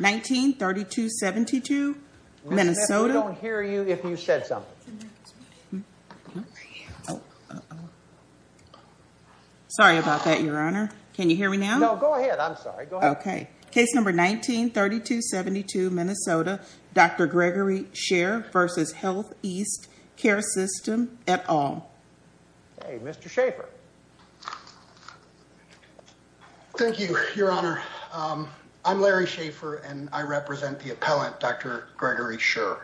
1932-72 Minnesota. I don't hear you if you said something. Sorry about that Your Honor. Can you hear me now? No, go ahead. I'm sorry. Okay. Case number 1932-72 Minnesota, Dr. Gregory Sherr v. HealthEast Care System et al. Hey, Mr. I'm Larry Schaefer, and I represent the appellant, Dr. Gregory Sherr.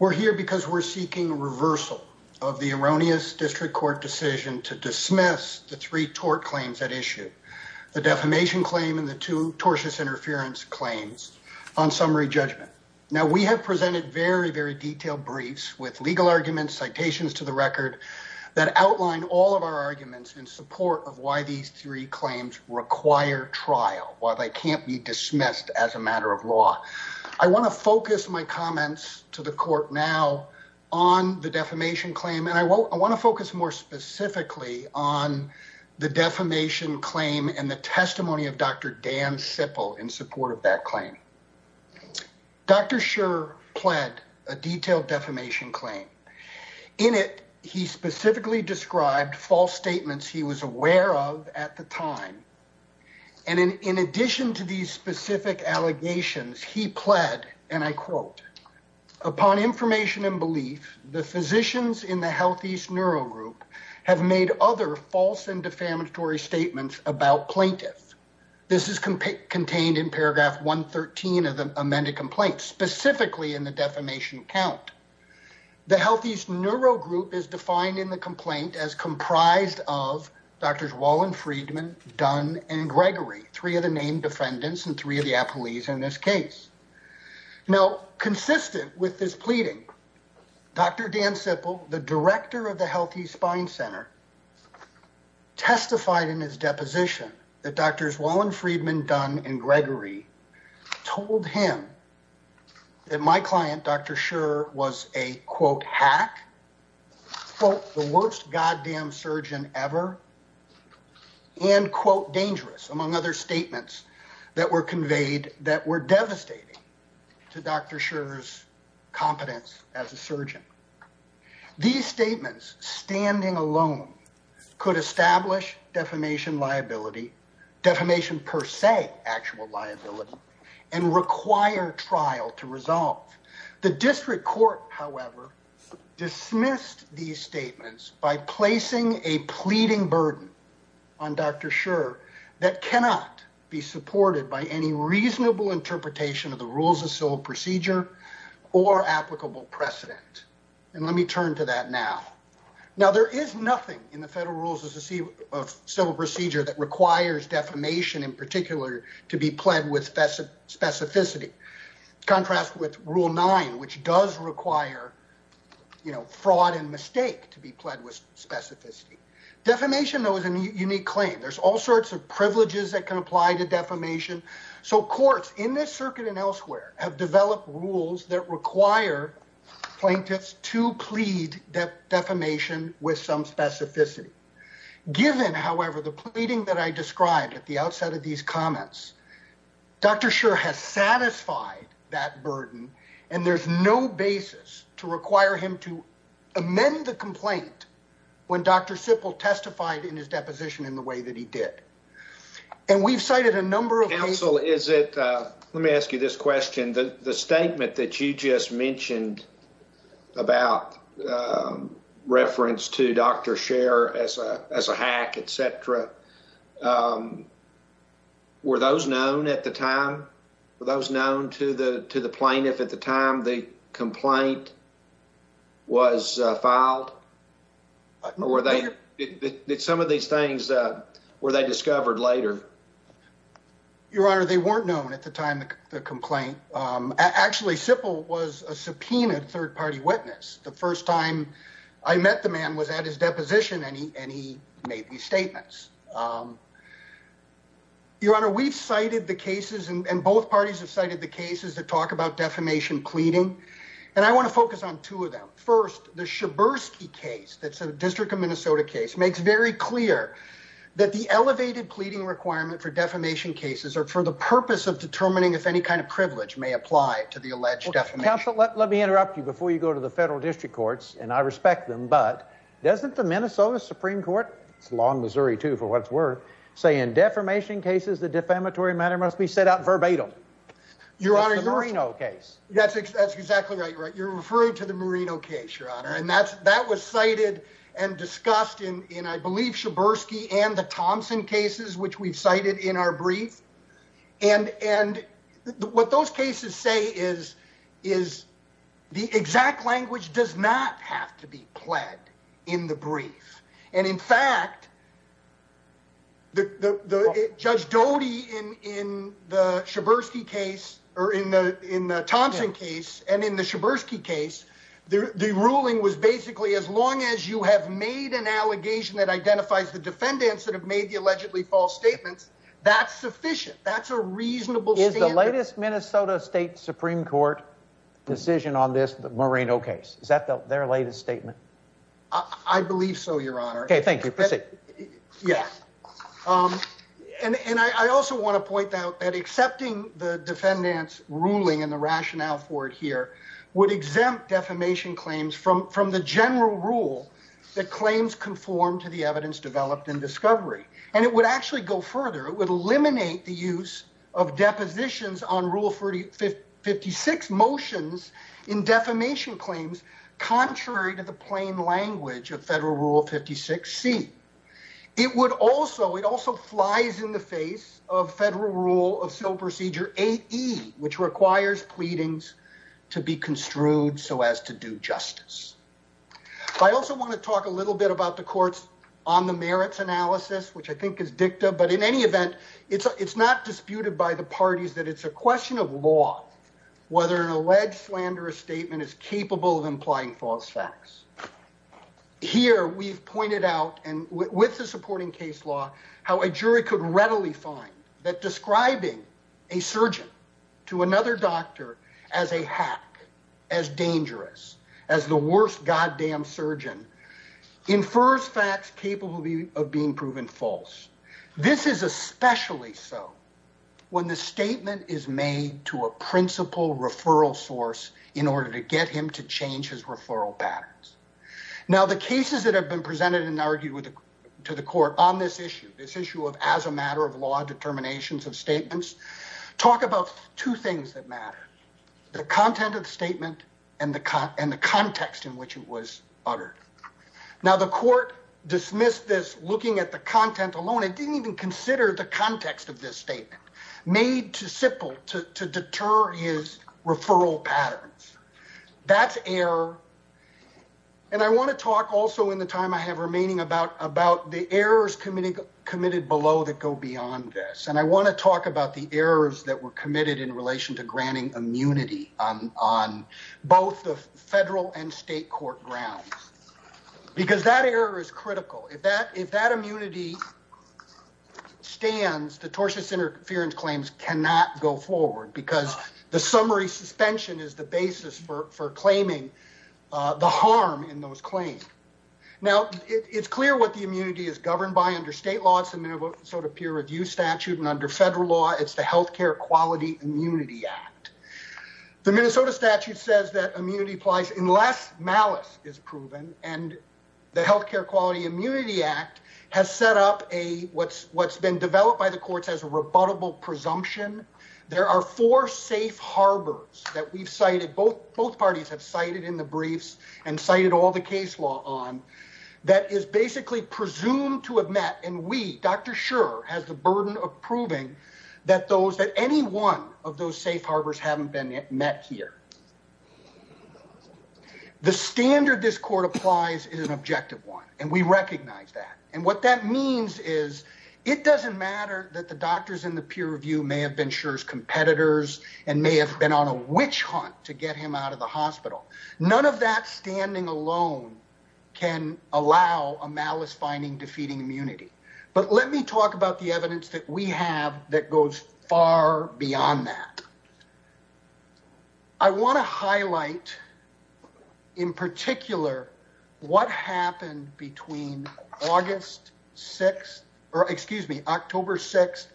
We're here because we're seeking reversal of the erroneous district court decision to dismiss the three tort claims at issue. The defamation claim and the two tortious interference claims on summary judgment. Now we have presented very, very detailed briefs with legal arguments, citations to the record that outline all of our arguments in support of why these three claims require trial while they can't be dismissed as a matter of law. I want to focus my comments to the court now on the defamation claim, and I want to focus more specifically on the defamation claim and the testimony of Dr. Dan Sipple in support of that claim. Dr. Sherr pled a detailed defamation claim. In it, he specifically described false statements he was aware of at the time. And in addition to these specific allegations, he pled, and I quote, upon information and belief, the physicians in the HealthEast Neuro Group have made other false and defamatory statements about plaintiffs. This is contained in paragraph 113 of the amended complaint, specifically in the defamation count. The HealthEast Neuro Group is defined in the complaint as comprised of Drs. Wallenfriedman, Dunn, and Gregory, three of the named defendants and three of the appellees in this case. Now, consistent with this pleading, Dr. Dan Sipple, the director of the HealthEast Spine Center, testified in his deposition that Drs. Wallenfriedman, Dunn, and Gregory told him that my client, Dr. Sherr, was a, quote, hack, quote, the worst goddamn surgeon ever, and, quote, dangerous, among other statements that were conveyed that were devastating to Dr. Sherr's competence as a surgeon. These statements, standing alone, could establish defamation liability, defamation per se actual liability, and require trial to resolve. The district court, however, dismissed these statements by placing a pleading burden on Dr. Sherr that cannot be supported by any reasonable interpretation of the rules of civil procedure or applicable precedent. And let me turn to that now. Now, there is nothing in the federal rules of civil procedure that requires defamation in particular to be pled with specificity, contrasted with Rule 9, which does require, you know, fraud and mistake to be pled with specificity. Defamation, though, is a unique claim. There's all sorts of privileges that can apply to defamation. So courts in this circuit and elsewhere have developed rules that require plaintiffs to plead defamation with some specificity. Given, however, the pleading that I described at the outset of these comments, Dr. Sherr has satisfied that burden, and there's no basis to require him to amend the complaint when Dr. Sippel testified in his deposition in the way that he did. And we've cited a number of cases- to Dr. Sherr as a hack, etc. Were those known at the time? Were those known to the plaintiff at the time the complaint was filed? Or were they- did some of these things- were they discovered later? Your Honor, they weren't known at the time of the complaint. Actually, Sippel was a subpoenaed third-party witness. The first time I met the man was at his deposition, and he made these statements. Your Honor, we've cited the cases, and both parties have cited the cases that talk about defamation pleading. And I want to focus on two of them. First, the Schabersky case, that's a District of Minnesota case, makes very clear that the elevated pleading requirement for defamation cases are for the purpose of determining if any kind of privilege may apply to the alleged defamation. Counsel, let me interrupt you before you go to the federal district courts, and I respect them, but doesn't the Minnesota Supreme Court- it's long Missouri, too, for what it's worth- say in defamation cases, the defamatory matter must be set out verbatim? Your Honor, that's exactly right. You're referring to the Marino case, Your Honor. And that was cited and discussed in, I believe, Schabersky and the Thompson cases, which we've cited in our brief. And what those cases say is, the exact language does not have to be pled in the brief. And in fact, Judge Doty in the Thompson case and in the Schabersky case, the ruling was basically, as long as you have made an allegation that identifies the defendants that have made the allegedly false statements, that's sufficient. That's a reasonable standard. Is the latest Minnesota State Supreme Court decision on this Marino case, is that their latest statement? I believe so, Your Honor. Okay, thank you. Proceed. Yes. And I also want to point out that accepting the defendant's ruling and the rationale for it here would exempt defamation claims from the general rule that claims conform to the federal rule of 56C. And it would actually go further. It would eliminate the use of depositions on rule 56 motions in defamation claims, contrary to the plain language of federal rule 56C. It would also, it also flies in the face of federal rule of civil procedure 8E, which requires pleadings to be construed so as to do justice. I also want to talk a little bit about the court's on the merits analysis, which I think is dicta, but in any event, it's not disputed by the parties that it's a question of law, whether an alleged slanderous statement is capable of implying false facts. Here, we've pointed out, and with the supporting case law, how a jury could readily find that describing a surgeon to another doctor as a hack, as dangerous, as the worst goddamn surgeon, infers facts capable of being proven false. This is especially so when the statement is made to a principal referral source in order to get him to change his referral patterns. Now, the cases that have been presented and argued to the court on this issue, this issue of as a matter of law, determinations of statements, talk about two things that matter, the content of the statement and the context in which it was uttered. Now, the court dismissed this looking at the content alone. It didn't even consider the context of this statement, made too simple to deter his referral patterns. That's error, and I want to talk also in the time I have remaining about the errors committed below that go beyond this, and I want to talk about the errors that were committed in relation to granting immunity on both the federal and state court grounds, because that error is critical. If that immunity stands, the tortious interference claims cannot go forward because the summary suspension is the basis for claiming the harm in those claims. Now, it's clear what the immunity is governed by under state law. It's the Minnesota Peer Review Statute, and under federal law, it's the Healthcare Quality Immunity Act. The Minnesota statute says that immunity applies unless malice is proven, and the Healthcare Quality Immunity Act has set up what's been developed by the courts as a rebuttable presumption. There are four safe harbors that are presumed to have met, and we, Dr. Schur, has the burden of proving that any one of those safe harbors haven't been met here. The standard this court applies is an objective one, and we recognize that, and what that means is it doesn't matter that the doctors in the peer review may have been Schur's competitors and may have been on a witch hunt to get him out of the hospital. None of that standing alone can allow a malice-finding, defeating immunity, but let me talk about the evidence that we have that goes far beyond that. I want to highlight in particular what happened between August 6th, or excuse me, October 6th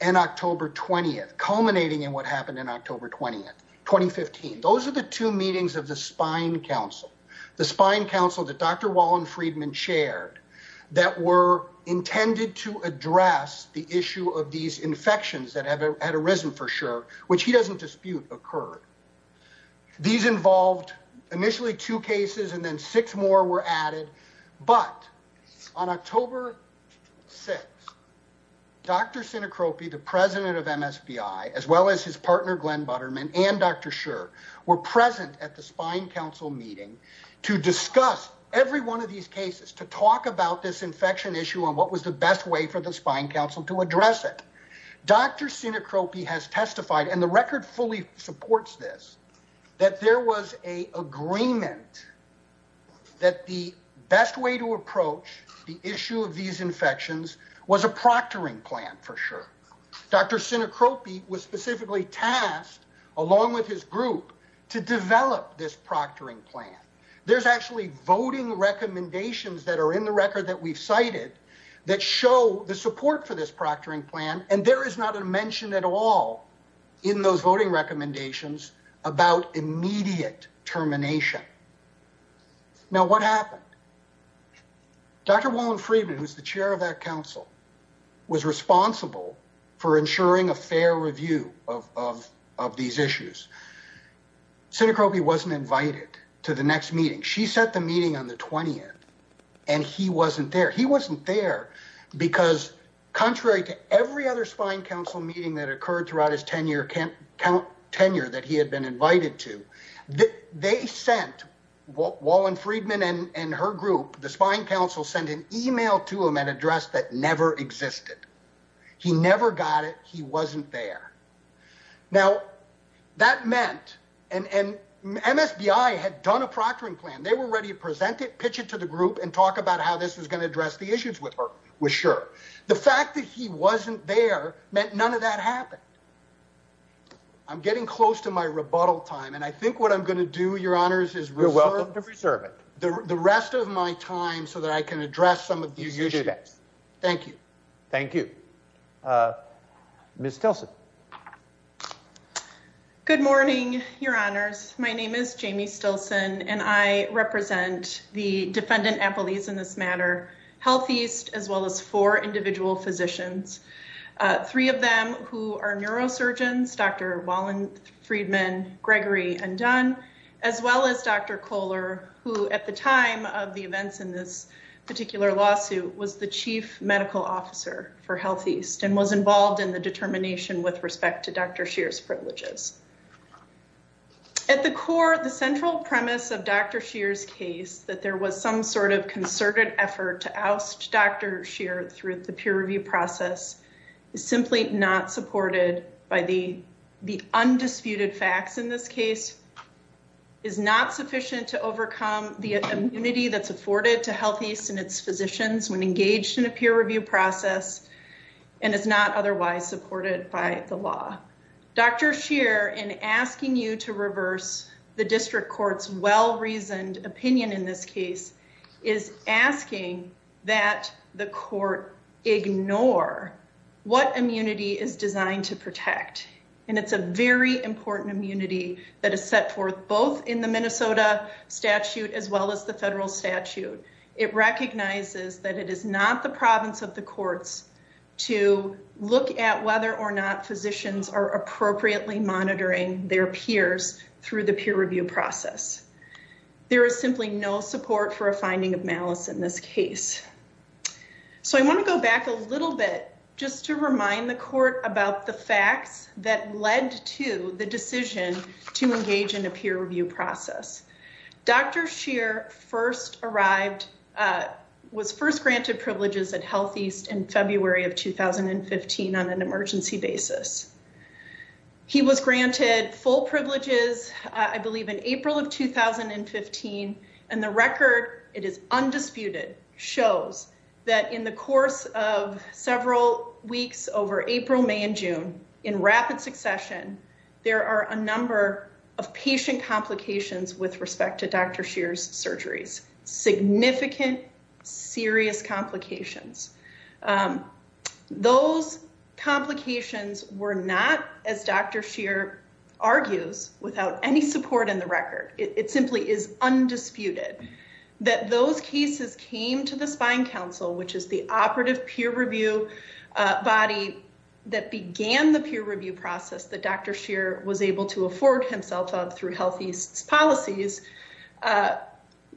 and October 20th, culminating in what happened in October 20th, 2015. Those are the two meetings of the Spine Council, the Spine Council that Dr. Wallen-Friedman chaired that were intended to address the issue of these infections that had arisen for Schur, which he doesn't dispute occurred. These involved initially two cases, and then six more were added, but on October 6th, Dr. Sinekropi, the president of MSBI, as well as his partner, Glenn Butterman, and Dr. Schur were present at the Spine Council meeting to discuss every one of these cases, to talk about this infection issue and what was the best way for the Spine Council to address it. Dr. Sinekropi has testified, and the record fully supports this, that there was an agreement that the best way to approach the issue of these infections was a proctoring plan for Schur. Dr. Sinekropi was specifically tasked, along with his group, to develop this proctoring plan. There's actually voting recommendations that are in the record that we've cited that show the support for this proctoring plan, and there is not a mention at all in those voting recommendations about immediate termination. Now, what happened? Dr. Wallen-Friedman, who's the chair of that council, was responsible for ensuring a fair review of these issues. Sinekropi wasn't invited to the next meeting. She set the meeting on the 20th, and he wasn't there. He wasn't there because, contrary to every other Spine Council meeting that occurred throughout his tenure that he had been invited to, they sent Wallen-Friedman and her group, the Spine Council, sent an email to him at address that never existed. He never got it. He wasn't there. Now, that meant, and MSBI had done a proctoring plan. They were ready to present it, pitch it to the group, and talk about how this was going to address the issues with Schur. The fact that he wasn't there meant none of that happened. I'm getting close to my rebuttal time, and I think what I'm going to do, Your Honors, is reserve it. You're welcome the rest of my time so that I can address some of these issues. You do that. Thank you. Thank you. Ms. Stilson. Good morning, Your Honors. My name is Jamie Stilson, and I represent the defendant appellees in this matter, HealthEast, as well as four individual physicians, three of them who are neurosurgeons, Dr. Wallen-Friedman, Gregory, and Dunn, as well as Dr. Kohler, who at the time of the events in this particular lawsuit was the chief medical officer for HealthEast and was involved in the determination with respect to Dr. Scheer's privileges. At the core, the central premise of Dr. Scheer's case, that there was some sort of concerted effort to oust Dr. Scheer through the peer review process, is simply not supported by the undisputed facts in this case, is not sufficient to overcome the immunity that's afforded to HealthEast and its physicians when engaged in a peer review process, and is not otherwise supported by the law. Dr. Scheer, in asking you to reverse the district court's well-reasoned opinion in this case, is asking that the court ignore what immunity is designed to protect, and it's a very important immunity that is set forth both in the Minnesota statute as well as the federal statute. It recognizes that it is not the province of the courts to look at whether or not physicians are appropriately monitoring their peers through the peer review process. There is simply no support for a finding of malice in this case. So I want to go back a little bit just to remind the court about the facts that led to the decision to engage in a peer review process. Dr. Scheer first arrived, was first granted privileges at HealthEast in February of 2015 on an emergency basis. He was granted full privileges, I believe in April of 2015, and the record, it is undisputed, shows that in the course of several weeks over April, May, and June, in rapid succession, there are a number of patient complications with respect to Dr. Scheer's surgeries, significant, serious complications. Those complications were not, as Dr. Scheer argues, without any support in the record. It simply is undisputed that those cases came to the Spine Council, which is the operative peer review body that began the peer review process that Dr. Scheer was able to afford himself of through HealthEast's policies,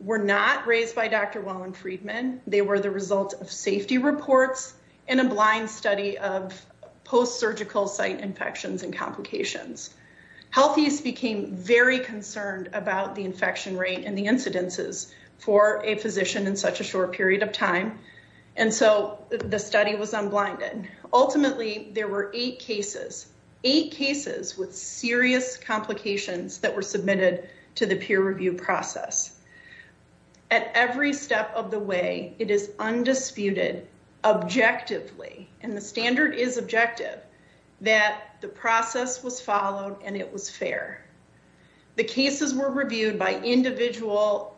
were not raised by Dr. Wallen-Friedman. They were the result of safety reports and a blind study of post-surgical site infections and very concerned about the infection rate and the incidences for a physician in such a short period of time, and so the study was unblinded. Ultimately, there were eight cases, eight cases with serious complications that were submitted to the peer review process. At every step of the way, it is undisputed, objectively, and the standard is objective, that the process was followed and it was fair. The cases were reviewed by individual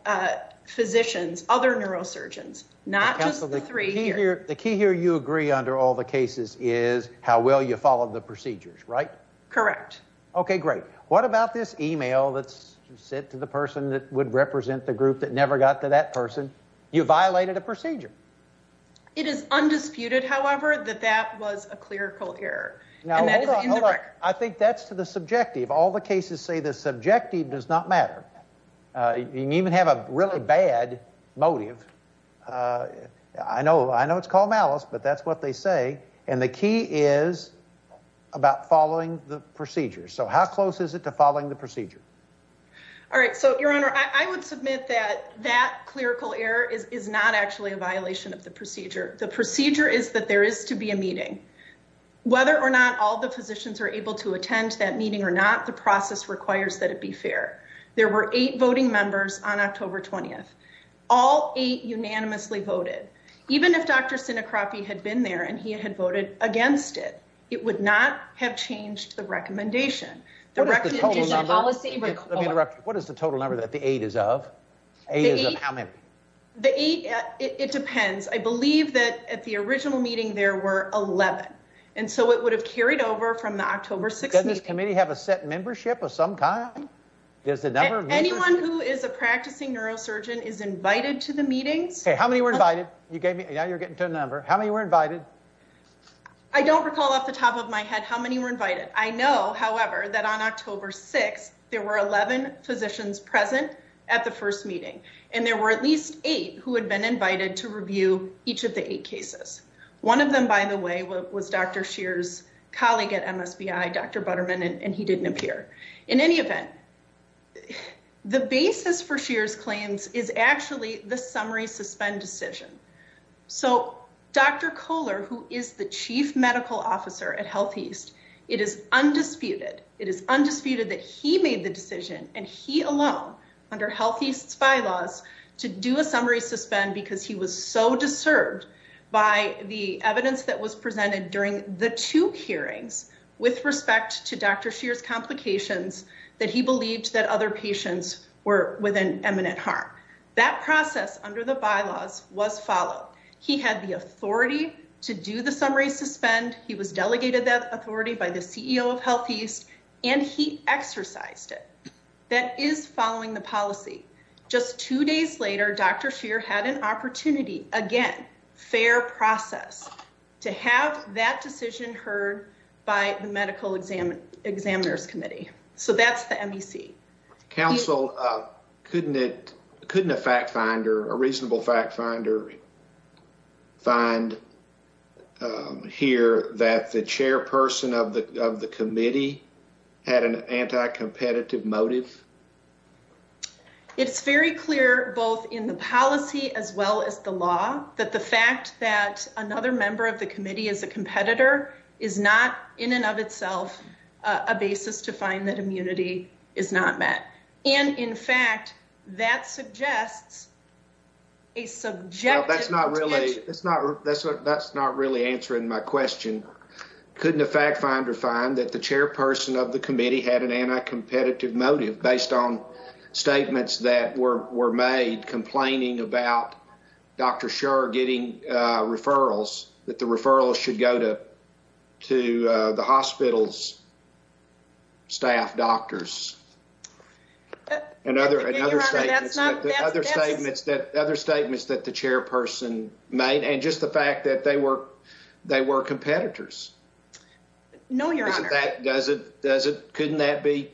physicians, other neurosurgeons, not just the three here. The key here you agree under all the cases is how well you followed the procedures, right? Correct. Okay, great. What about this email that's sent to the person that would represent the group that never got to that person? You violated a procedure. It is undisputed, however, that that was a clerical error. I think that's to the subjective. All the cases say the subjective does not matter. You can even have a really bad motive. I know it's called malice, but that's what they say, and the key is about following the procedure. So how close is it to following the procedure? All right. So, Your Honor, I would submit that that clerical error is not actually a violation of the procedure. The procedure is that there is to be a meeting. Whether or not all the physicians are able to attend that meeting or not, the process requires that it be fair. There were eight voting members on October 20th. All eight unanimously voted. Even if Dr. Sinecropy had been there and he had voted against it, it would not have changed the recommendation. What is the total number that the eight is of? It depends. I believe that at the original meeting there were 11, and so it would have carried over from the October 6th meeting. Doesn't this committee have a set membership of some kind? Anyone who is a practicing neurosurgeon is invited to the meetings. How many were invited? Now you're getting to a number. How many were invited? I don't recall off the top of my head how many were invited. I know, however, that on October 6th there were 11 physicians present at the first meeting, and there were at least eight who had been invited to review each of the eight cases. One of them, by the way, was Dr. Scheer's colleague at MSBI, Dr. Butterman, and he didn't appear. In any event, the basis for Scheer's claims is the summary suspend decision. Dr. Kohler, who is the chief medical officer at HealthEast, it is undisputed that he made the decision, and he alone under HealthEast's bylaws, to do a summary suspend because he was so disturbed by the evidence that was presented during the two hearings with respect to Dr. Scheer's complications that he believed that patients were with an imminent harm. That process under the bylaws was followed. He had the authority to do the summary suspend. He was delegated that authority by the CEO of HealthEast, and he exercised it. That is following the policy. Just two days later, Dr. Scheer had an opportunity, again, fair process, to have that decision heard by the Medical Examiners Committee. So that's the MEC. Counsel, couldn't a fact finder, a reasonable fact finder, find here that the chairperson of the committee had an anti-competitive motive? It's very clear, both in the policy as well as the law, that the fact that another member of the community is not met. And in fact, that suggests a subjective... That's not really answering my question. Couldn't a fact finder find that the chairperson of the committee had an anti-competitive motive based on statements that were made complaining about Dr. Scheer getting referrals, that the referrals should go to the hospital's staff doctors? And other statements that the chairperson made, and just the fact that they were competitors. No, Your Honor. Couldn't that be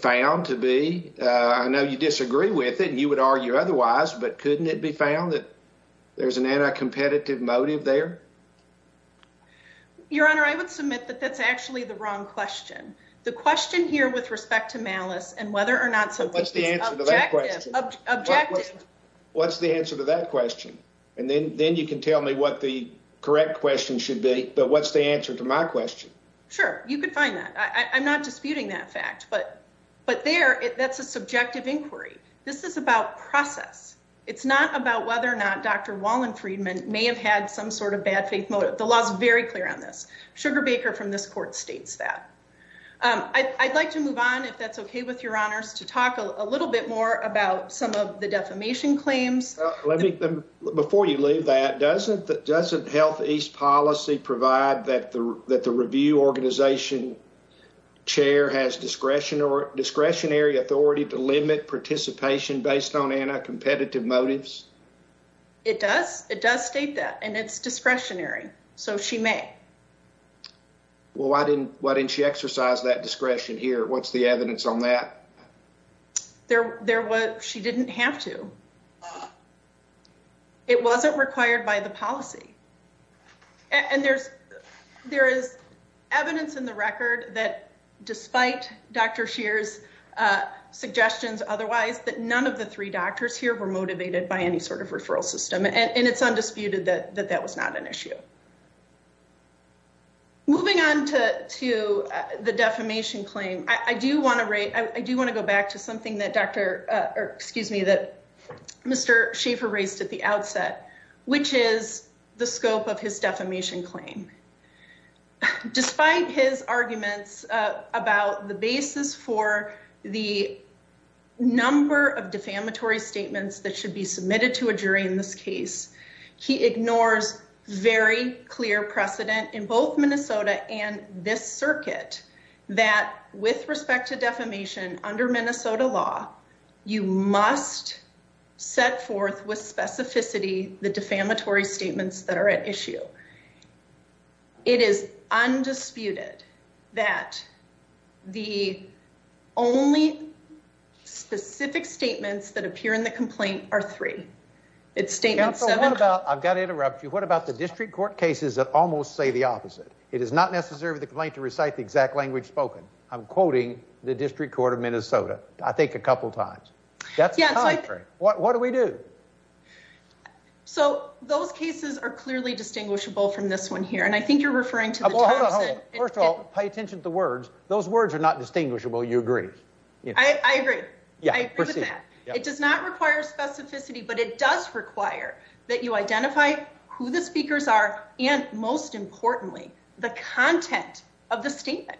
found to be? I know you disagree with it, and you would argue otherwise, but couldn't it be found that there's an anti-competitive motive there? Your Honor, I would submit that that's actually the wrong question. The question here with respect to malice, and whether or not something is objective... Well, what's the answer to that question? What's the answer to that question? And then you can tell me what the correct question should be, but what's the answer to my question? Sure, you could find that. I'm not disputing that fact, but there, that's a subjective inquiry. This is about process. It's not about whether or not Dr. Wallenfriedman may have had some sort of bad faith motive. The law's very clear on this. Sugar Baker from this court states that. I'd like to move on, if that's okay with Your Honors, to talk a little bit more about some of the defamation claims. Before you leave that, doesn't Health East Policy provide that the review organization chair has discretionary authority to limit participation based on anti-competitive motives? It does. It does state that, and it's discretionary, so she may. Well, why didn't she exercise that discretion here? What's the evidence on that? She didn't have to. It wasn't required by the policy. And there is evidence in the record that, despite Dr. Scheer's suggestions otherwise, that none of the three doctors here were motivated by any sort of referral system, and it's undisputed that that was not an issue. Moving on to the defamation claim, I do want to rate, I do want to go back to something that or excuse me, that Mr. Schaefer raised at the outset, which is the scope of his defamation claim. Despite his arguments about the basis for the number of defamatory statements that should be submitted to a jury in this case, he ignores very clear precedent in both Minnesota and this You must set forth with specificity the defamatory statements that are at issue. It is undisputed that the only specific statements that appear in the complaint are three. I've got to interrupt you. What about the district court cases that almost say the opposite? It is not necessary for the complaint to recite the exact language spoken. I'm quoting the district court of Minnesota, I think, a couple times. That's contrary. What do we do? So those cases are clearly distinguishable from this one here, and I think you're referring to First of all, pay attention to the words. Those words are not distinguishable. You agree? I agree. I agree with that. It does not require specificity, but it does require that you identify who the speakers are and, most importantly, the content of the statement.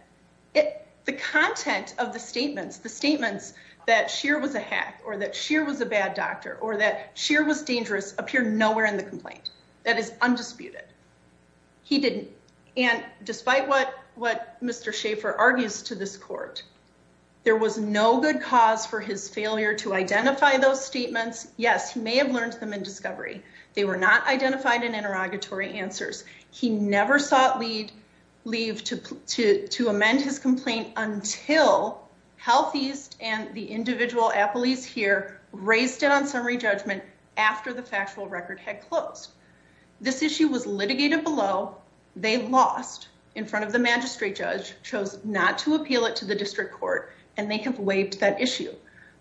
The content of the statements, the statements that Scheer was a hack or that Scheer was a bad doctor or that Scheer was dangerous appear nowhere in the complaint. That is undisputed. He didn't. And despite what Mr. Schaefer argues to this court, there was no good cause for his failure to identify those statements. Yes, he may have learned them in discovery. They were not until HealthEast and the individual at police here raised it on summary judgment after the factual record had closed. This issue was litigated below. They lost in front of the magistrate judge, chose not to appeal it to the district court, and they have waived that issue.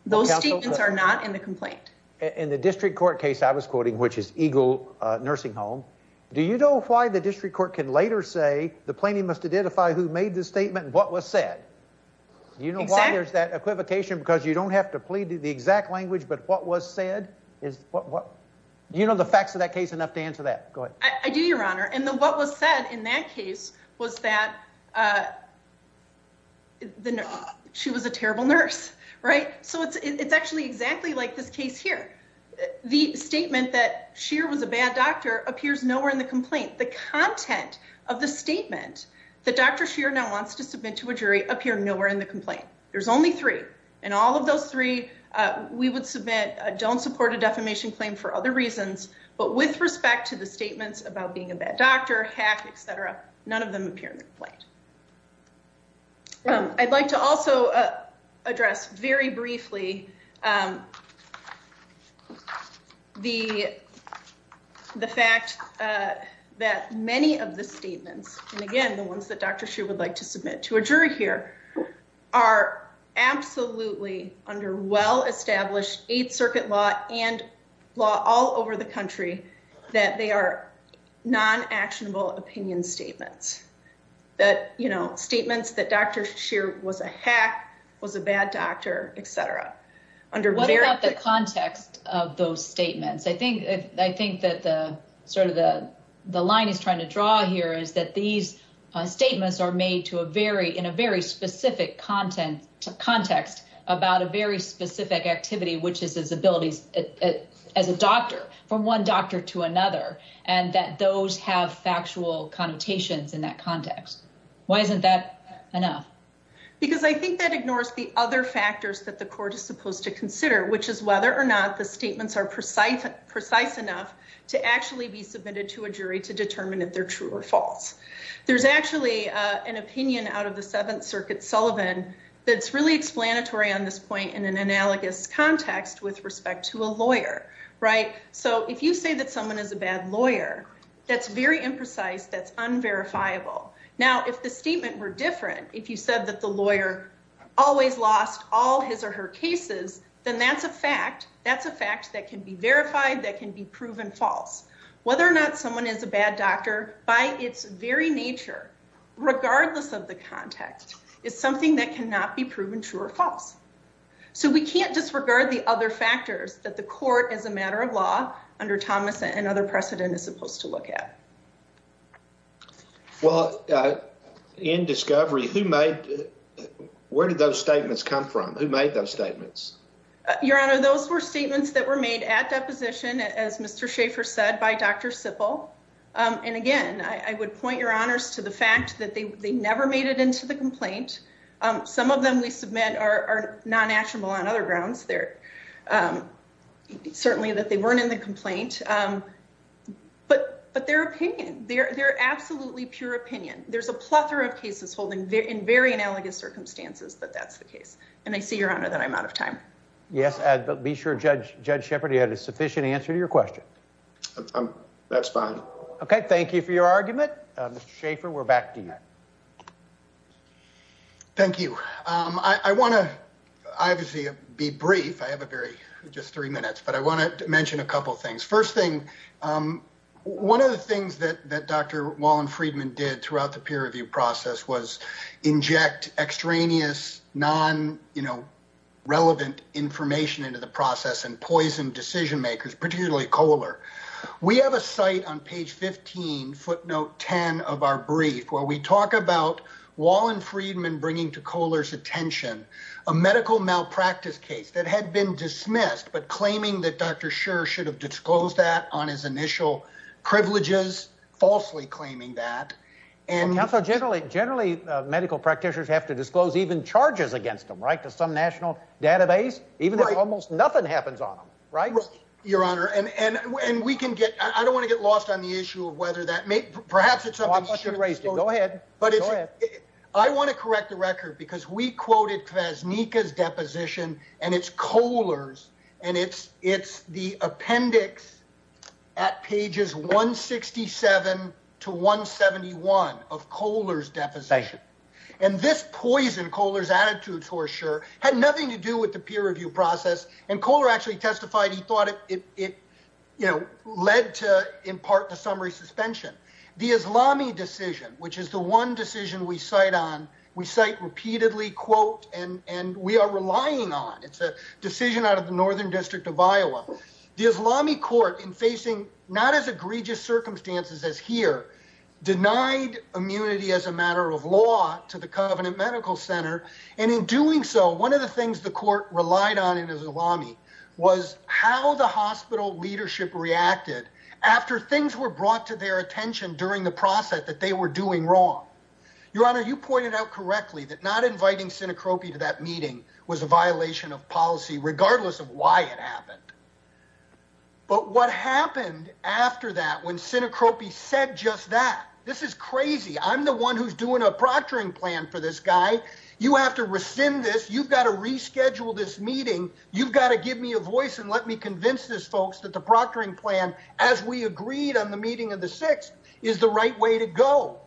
Those statements are not in the complaint. In the district court case I was quoting, which is Eagle Nursing Home, do you know why the district court can later say the You know why there's that equivocation? Because you don't have to plead the exact language, but what was said is what you know the facts of that case enough to answer that. Go ahead. I do, Your Honor. And what was said in that case was that she was a terrible nurse. Right. So it's actually exactly like this case here. The statement that Scheer was a bad doctor appears nowhere in the complaint. The content of the statement that Dr. Scheer now wants to submit to a jury appear nowhere in the complaint. There's only three, and all of those three we would submit don't support a defamation claim for other reasons, but with respect to the statements about being a bad doctor, hack, etc., none of them appear in the complaint. I'd like to also address very briefly the fact that many of the statements, and again the ones that Dr. Scheer would like to submit to a jury here, are absolutely under well-established Eighth Circuit law and law all over the country that they are non-actionable opinion statements. That, you know, statements that Dr. Scheer was a bad doctor, etc. What about the context of those statements? I think that sort of the line he's trying to draw here is that these statements are made in a very specific context about a very specific activity, which is his abilities as a doctor, from one doctor to another, and that those have factual connotations in that context. Why isn't that enough? Because I think that there are other factors that the court is supposed to consider, which is whether or not the statements are precise enough to actually be submitted to a jury to determine if they're true or false. There's actually an opinion out of the Seventh Circuit, Sullivan, that's really explanatory on this point in an analogous context with respect to a lawyer, right? So, if you say that someone is a bad lawyer, that's very imprecise, that's unverifiable. Now, if the statement were different, if you said that the lawyer always lost all his or her cases, then that's a fact, that's a fact that can be verified, that can be proven false. Whether or not someone is a bad doctor, by its very nature, regardless of the context, is something that cannot be proven true or false. So, we can't disregard the other factors that the court, as a matter of law, under Thomas and other precedent, is supposed to look at. Well, in discovery, who made, where did those statements come from? Who made those statements? Your Honor, those were statements that were made at deposition, as Mr. Schaefer said, by Dr. Sippel. And again, I would point your honors to the fact that they never made it into the complaint. Some of them we submit are non-actionable on other grounds there. It's certainly that they weren't in the complaint, but their opinion, their absolutely pure opinion, there's a plethora of cases holding in very analogous circumstances that that's the case. And I see, Your Honor, that I'm out of time. Yes, but be sure, Judge Shepard, you had a sufficient answer to your question. That's fine. Okay, thank you for your argument. Mr. Schaefer, we're back to you. Thank you. I want to, obviously, be brief. I have a very, just three minutes, but I want to mention a couple of things. First thing, one of the things that Dr. Wallen-Friedman did throughout the peer review process was inject extraneous, non-relevant information into the process and poison decision makers, particularly Kohler. We have a site on page 15, footnote 10, of our brief where we talk about Wallen-Friedman bringing to Kohler's attention a medical malpractice case that had been dismissed, but claiming that Dr. Scher should have disclosed that on his initial privileges, falsely claiming that. Counsel, generally, medical practitioners have to disclose even charges against them, right, to some national database, even if almost nothing happens on them, right? Your Honor, and we can get, I don't want to get lost on the issue of that. Perhaps it's something... Go ahead. Go ahead. I want to correct the record because we quoted Krasnicka's deposition, and it's Kohler's, and it's the appendix at pages 167 to 171 of Kohler's deposition. This poison, Kohler's attitude towards Scher, had nothing to do with the peer review process. Kohler actually testified he thought it led to, in part, the summary suspension. The Islami decision, which is the one decision we cite on, we cite repeatedly, quote, and we are relying on. It's a decision out of the Northern District of Iowa. The Islami court, in facing not as egregious circumstances as here, denied immunity as a matter of law to the Covenant Medical Center, and in doing so, one of the things the court relied on in Islami was how the hospital leadership reacted after things were brought to their attention during the process that they were doing wrong. Your Honor, you pointed out correctly that not inviting Sinekropi to that meeting was a violation of policy, regardless of why it happened. But what happened after that, when Sinekropi said just that, this is crazy, I'm the one who's doing a proctoring plan for this guy, you have to rescind this, you've got to reschedule this meeting, you've got to give me a voice and let me convince these folks that the proctoring plan, as we agreed on the meeting of the 6th, is the right way to go.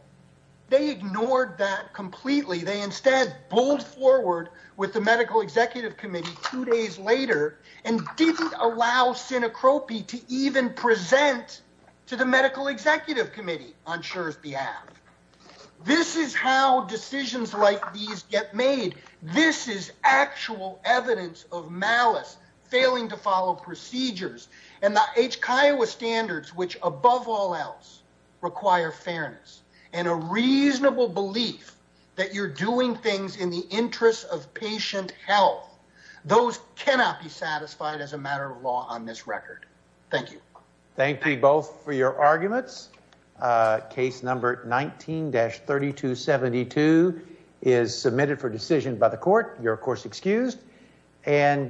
They ignored that completely. They instead pulled forward with the Medical Executive Committee two days later and didn't allow Sinekropi to even present to the Medical Executive Committee on Scher's behalf. This is how decisions like these get made. This is actual evidence of malice, failing to follow procedures, and the H. Kiowa standards, which above all else, require fairness and a reasonable belief that you're doing things in the interest of patient health. Those cannot be satisfied as a matter of law on this record. Thank you. Thank you both for your arguments. Case number 19-3272 is submitted for decision by the court. You're of course excused.